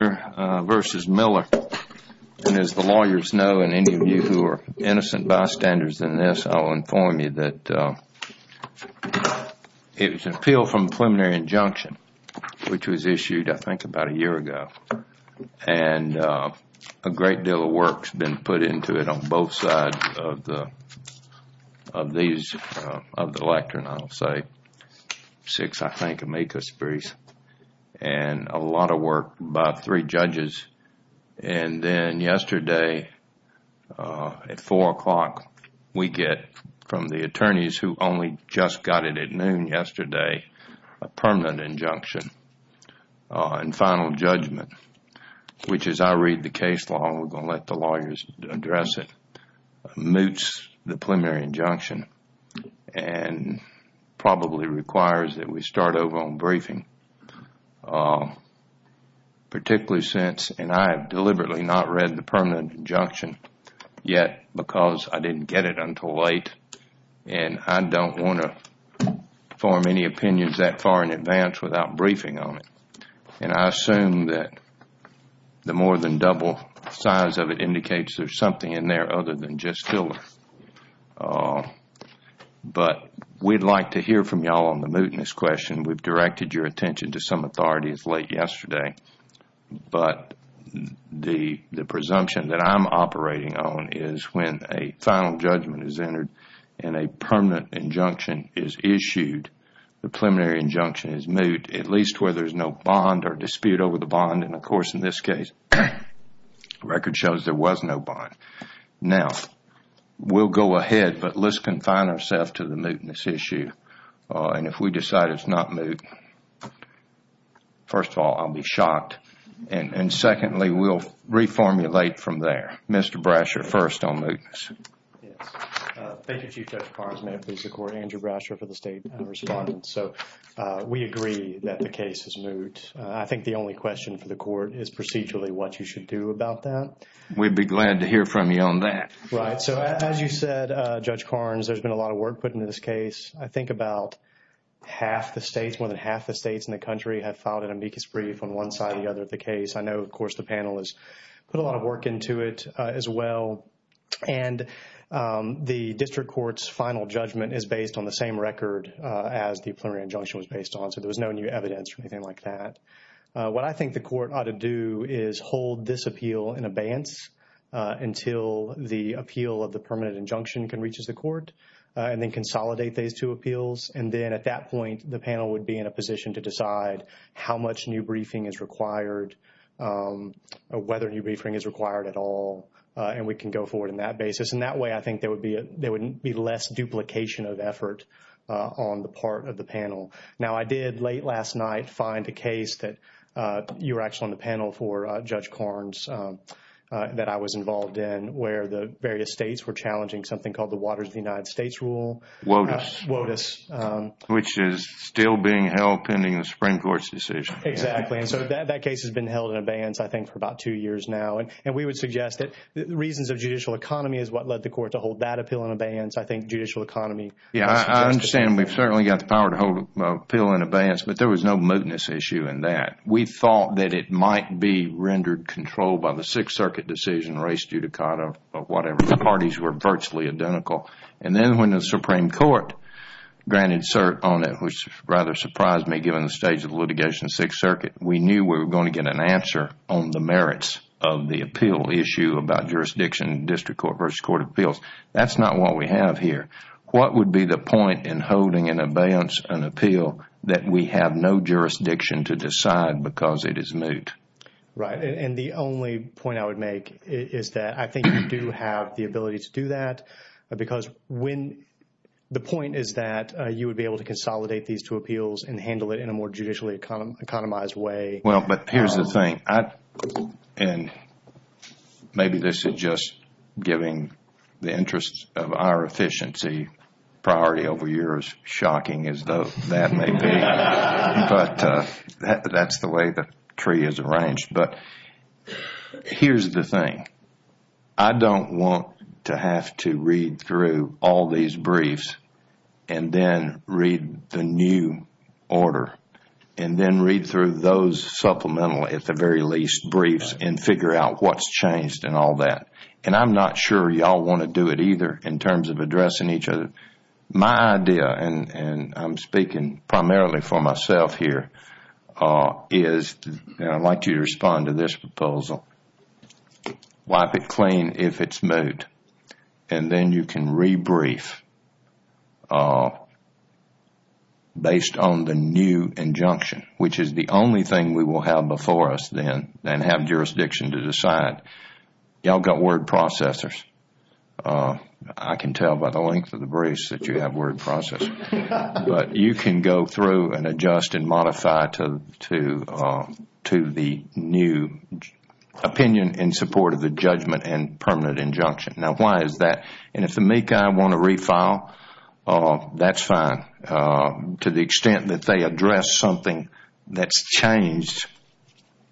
And as the lawyers know, and any of you who are innocent bystanders in this, I'll inform you that it was an appeal from a preliminary injunction, which was issued, I think, about a year ago. And a great deal of work has been put into it on both sides of the lectern, I'll say. Six, I think, amicus briefs. And a lot of work by three judges. And then yesterday at 4 o'clock, we get from the attorneys who only just got it at noon yesterday, a permanent injunction and final judgment, which as I read the case law, and we're going to let the lawyers address it, moots the preliminary injunction and probably requires that we start over on briefing. Particularly since, and I have deliberately not read the permanent injunction yet because I didn't get it until late, and I don't want to form any opinions that far in advance without briefing on it. And I assume that the more than double size of it indicates there's something in there other than just filler. But we'd like to hear from you all on the mootness question. We've directed your attention to some authorities late yesterday. But the presumption that I'm operating on is when a final judgment is entered and a permanent injunction is issued, the preliminary injunction is moot, at least where there's no bond or dispute over the bond. And of course, in this case, the record shows there was no bond. Now, we'll go ahead, but let's confine ourselves to the mootness issue. And if we decide it's not moot, first of all, I'll be shocked. And secondly, we'll reformulate from there. Mr. Brasher, first on mootness. Yes. Thank you, Chief Judge Parsons. May it please the Court. Andrew Brasher for the State University of London. So, we agree that the case is moot. I think the only question for the Court is procedurally what you should do about that. We'd be glad to hear from you on that. Right. So, as you said, Judge Carnes, there's been a lot of work put into this case. I think about half the states, more than half the states in the country have filed an amicus brief on one side or the other of the case. I know, of course, the panel has put a lot of work into it as well. And the district court's final judgment is based on the same record as the plenary injunction was based on, so there was no new evidence or anything like that. What I think the Court ought to do is hold this appeal in abeyance until the appeal of the permanent injunction can reach the Court and then consolidate these two appeals. And then at that point, the panel would be in a position to decide how much new briefing is required, whether new briefing is required at all, and we can go forward on that basis. And that way, I think there would be less duplication of effort on the part of the panel. Now, I did, late last night, find a case that you were actually on the panel for, Judge Carnes, that I was involved in where the various states were challenging something called the Waters of the United States Rule. WOTUS. WOTUS. Which is still being held pending the Supreme Court's decision. Exactly. And so that case has been held in abeyance, I think, for about two years now. And we would suggest that the reasons of judicial economy is what led the Court to hold that appeal in abeyance. I think judicial economy. Yeah, I understand. We've certainly got the power to hold an appeal in abeyance, but there was no mootness issue in that. We thought that it might be rendered control by the Sixth Circuit decision, race judicata, or whatever. The parties were virtually identical. And then when the Supreme Court granted cert on it, which rather surprised me given the stage of litigation in the Sixth Circuit, we knew we were going to get an answer on the merits of the appeal issue about jurisdiction, district court versus court of appeals. That's not what we have here. What would be the point in holding in abeyance an appeal that we have no jurisdiction to decide because it is moot? Right. And the only point I would make is that I think you do have the ability to do that because the point is that you would be able to consolidate these two appeals and handle it in a more judicially economized way. Well, but here's the thing. And maybe this is just giving the interests of our efficiency priority over yours. Shocking as that may be. But that's the way the tree is arranged. But here's the thing. I don't want to have to read through all these briefs and then read the new order and then read through those supplemental, at the very least, briefs and figure out what's changed and all that. And I'm not sure you all want to do it either in terms of addressing each other. My idea, and I'm speaking primarily for myself here, is I'd like you to respond to this proposal. Wipe it clean if it's moot. And then you can rebrief based on the new injunction, which is the only thing we will have before us then and have jurisdiction to decide. You all got word processors. I can tell by the length of the briefs that you have word processors. But you can go through and adjust and modify to the new opinion in support of the judgment and permanent injunction. Now, why is that? And if the MECI want to refile, that's fine. To the extent that they address something that's changed,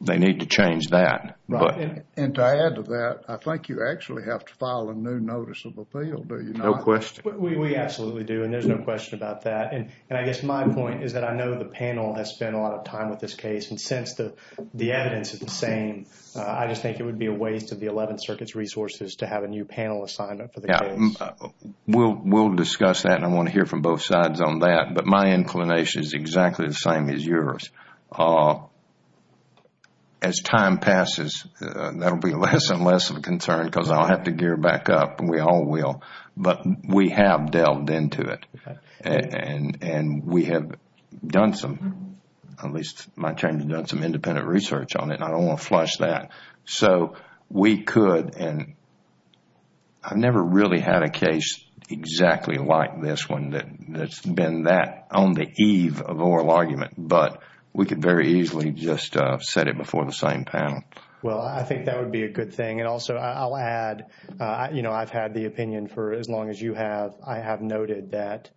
they need to change that. And to add to that, I think you actually have to file a new notice of appeal, do you not? No question. We absolutely do, and there's no question about that. And I guess my point is that I know the panel has spent a lot of time with this case. And since the evidence is the same, I just think it would be a waste of the Eleventh Circuit's resources to have a new panel assignment for the case. We'll discuss that, and I want to hear from both sides on that. But my inclination is exactly the same as yours. As time passes, that will be less and less of a concern because I'll have to gear back up, and we all will. But we have delved into it, and we have done some independent research on it. I don't want to flush that. So we could, and I've never really had a case exactly like this one that's been that on the eve of oral argument. But we could very easily just set it before the same panel. Well, I think that would be a good thing. And also, I'll add, you know, I've had the opinion for as long as you have. I have noted that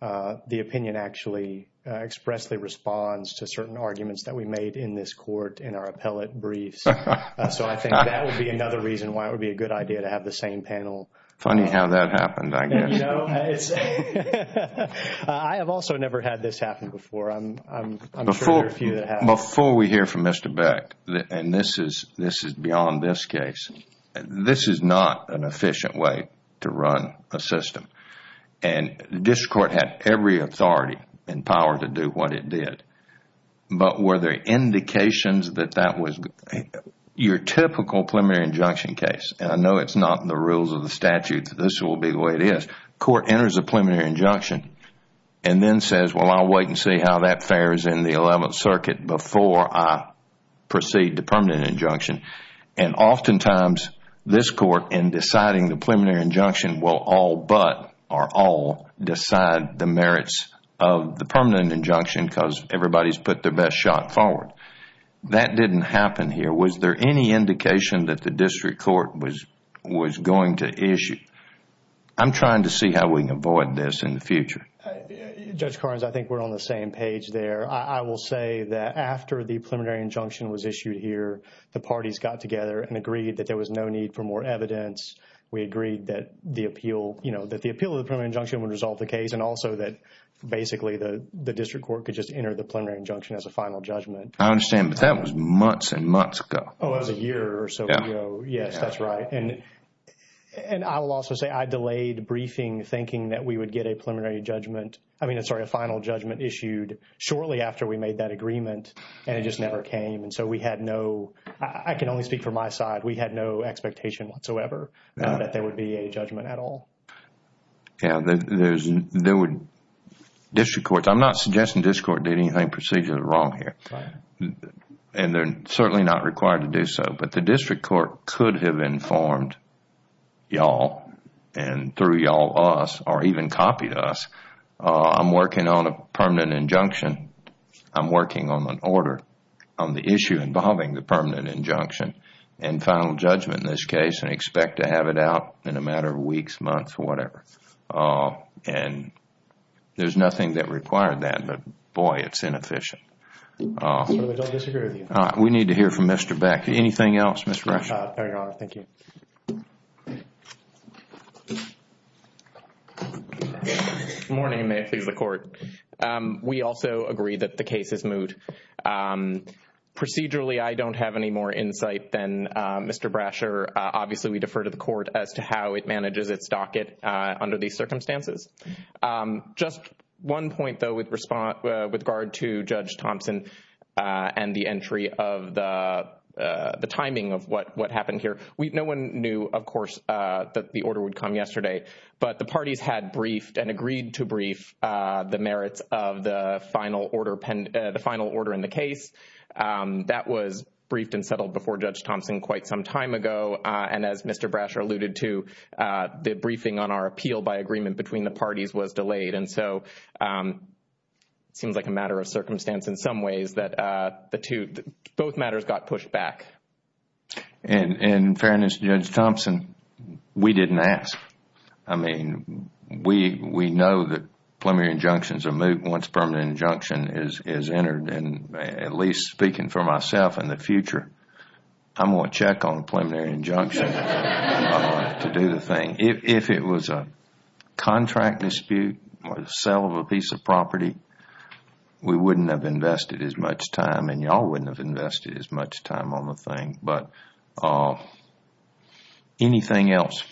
the opinion actually expressly responds to certain arguments that we made in this court in our appellate briefs. So I think that would be another reason why it would be a good idea to have the same panel. Funny how that happened, I guess. I have also never had this happen before. I'm sure there are a few that have. Before we hear from Mr. Beck, and this is beyond this case, this is not an efficient way to run a system. And this court had every authority and power to do what it did. But were there indications that that was your typical preliminary injunction case? I know it's not in the rules of the statute. This will be the way it is. Court enters a preliminary injunction and then says, well, I'll wait and see how that fares in the Eleventh Circuit before I proceed to permanent injunction. And oftentimes, this court, in deciding the preliminary injunction, will all but or all decide the merits of the permanent injunction because everybody's put their best shot forward. That didn't happen here. Was there any indication that the district court was going to issue? I'm trying to see how we can avoid this in the future. Judge Carnes, I think we're on the same page there. I will say that after the preliminary injunction was issued here, the parties got together and agreed that there was no need for more evidence. We agreed that the appeal, you know, that the appeal of the preliminary injunction would resolve the case and also that basically the district court could just enter the preliminary injunction as a final judgment. I understand, but that was months and months ago. Oh, it was a year or so ago. Yes, that's right. And I will also say I delayed briefing thinking that we would get a preliminary judgment. I mean, sorry, a final judgment issued shortly after we made that agreement and it just never came. And so we had no, I can only speak for my side, we had no expectation whatsoever that there would be a judgment at all. Yeah, there would, district courts, I'm not suggesting district court did anything procedurally wrong here. Right. And they're certainly not required to do so, but the district court could have informed y'all and through y'all us or even copied us. I'm working on a permanent injunction. I'm working on an order on the issue involving the permanent injunction and final judgment in this case and expect to have it out in a matter of weeks, months, whatever. And there's nothing that required that, but boy, it's inefficient. We don't disagree with you. We need to hear from Mr. Beck. Anything else, Mr. Brasher? No, thank you. Good morning, and may it please the court. We also agree that the case is moot. Procedurally, I don't have any more insight than Mr. Brasher. Obviously, we defer to the court as to how it manages its docket under these circumstances. Just one point, though, with regard to Judge Thompson and the entry of the timing of what happened here. No one knew, of course, that the order would come yesterday, but the parties had briefed and agreed to brief the merits of the final order in the case. That was briefed and settled before Judge Thompson quite some time ago, and as Mr. Brasher alluded to, the briefing on our appeal by agreement between the parties was delayed. And so it seems like a matter of circumstance in some ways that both matters got pushed back. In fairness to Judge Thompson, we didn't ask. I mean, we know that preliminary injunctions are moot once permanent injunction is entered, and at least speaking for myself in the future, I'm going to check on a preliminary injunction to do the thing. If it was a contract dispute or the sale of a piece of property, we wouldn't have invested as much time, and y'all wouldn't have invested as much time on the thing. But anything else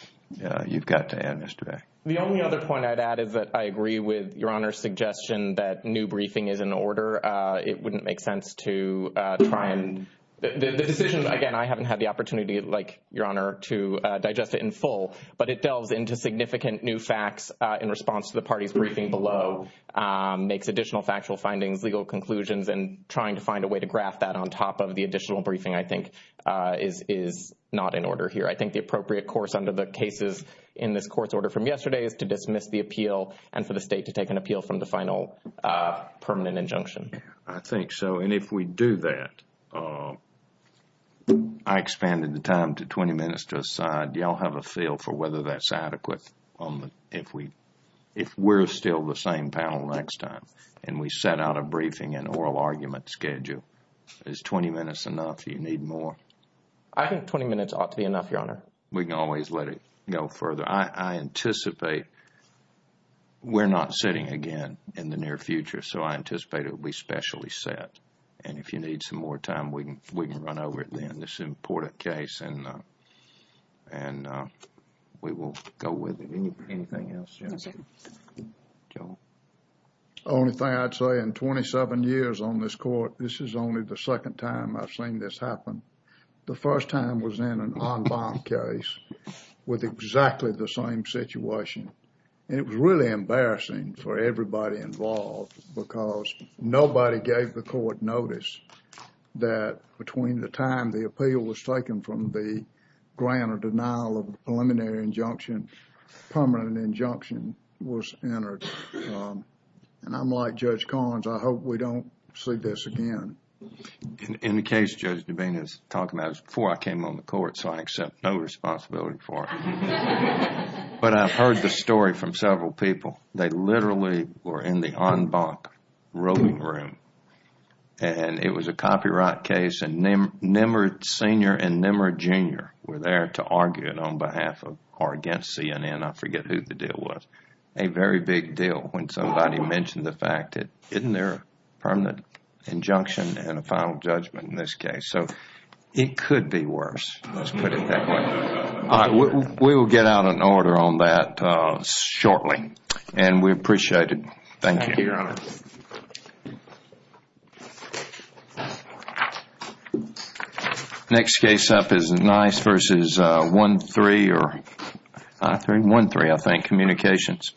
you've got to add, Mr. Beck? The only other point I'd add is that I agree with Your Honor's suggestion that new briefing is in order. It wouldn't make sense to try and—the decision, again, I haven't had the opportunity, like Your Honor, to digest it in full, but it delves into significant new facts in response to the party's briefing below, makes additional factual findings, legal conclusions, and trying to find a way to graph that on top of the additional briefing, I think, is not in order here. I think the appropriate course under the cases in this Court's order from yesterday is to dismiss the appeal and for the State to take an appeal from the final permanent injunction. I think so, and if we do that, I expanded the time to 20 minutes to a side. Y'all have a feel for whether that's adequate if we're still the same panel next time, and we set out a briefing and oral argument schedule. Is 20 minutes enough? Do you need more? I think 20 minutes ought to be enough, Your Honor. We can always let it go further. I anticipate we're not sitting again in the near future, so I anticipate it will be specially set. And if you need some more time, we can run over it then. This is an important case, and we will go with it. Anything else, Your Honor? No, sir. Joe? Only thing I'd say in 27 years on this Court, this is only the second time I've seen this happen. The first time was in an en banc case with exactly the same situation, and it was really embarrassing for everybody involved because nobody gave the Court notice that between the time the appeal was taken from the grant or denial of preliminary injunction, permanent injunction was entered. And I'm like Judge Collins. I hope we don't see this again. In the case Judge Devane is talking about, it was before I came on the Court, so I accept no responsibility for it. But I've heard the story from several people. They literally were in the en banc room, and it was a copyright case, and Nimrod Sr. and Nimrod Jr. were there to argue it on behalf of or against CNN. I forget who the deal was. A very big deal when somebody mentioned the fact that isn't there a permanent injunction and a final judgment in this case? So it could be worse, let's put it that way. We will get out an order on that shortly, and we appreciate it. Thank you, Your Honor. Next case up is Nice v. 1-3, I think, Communications.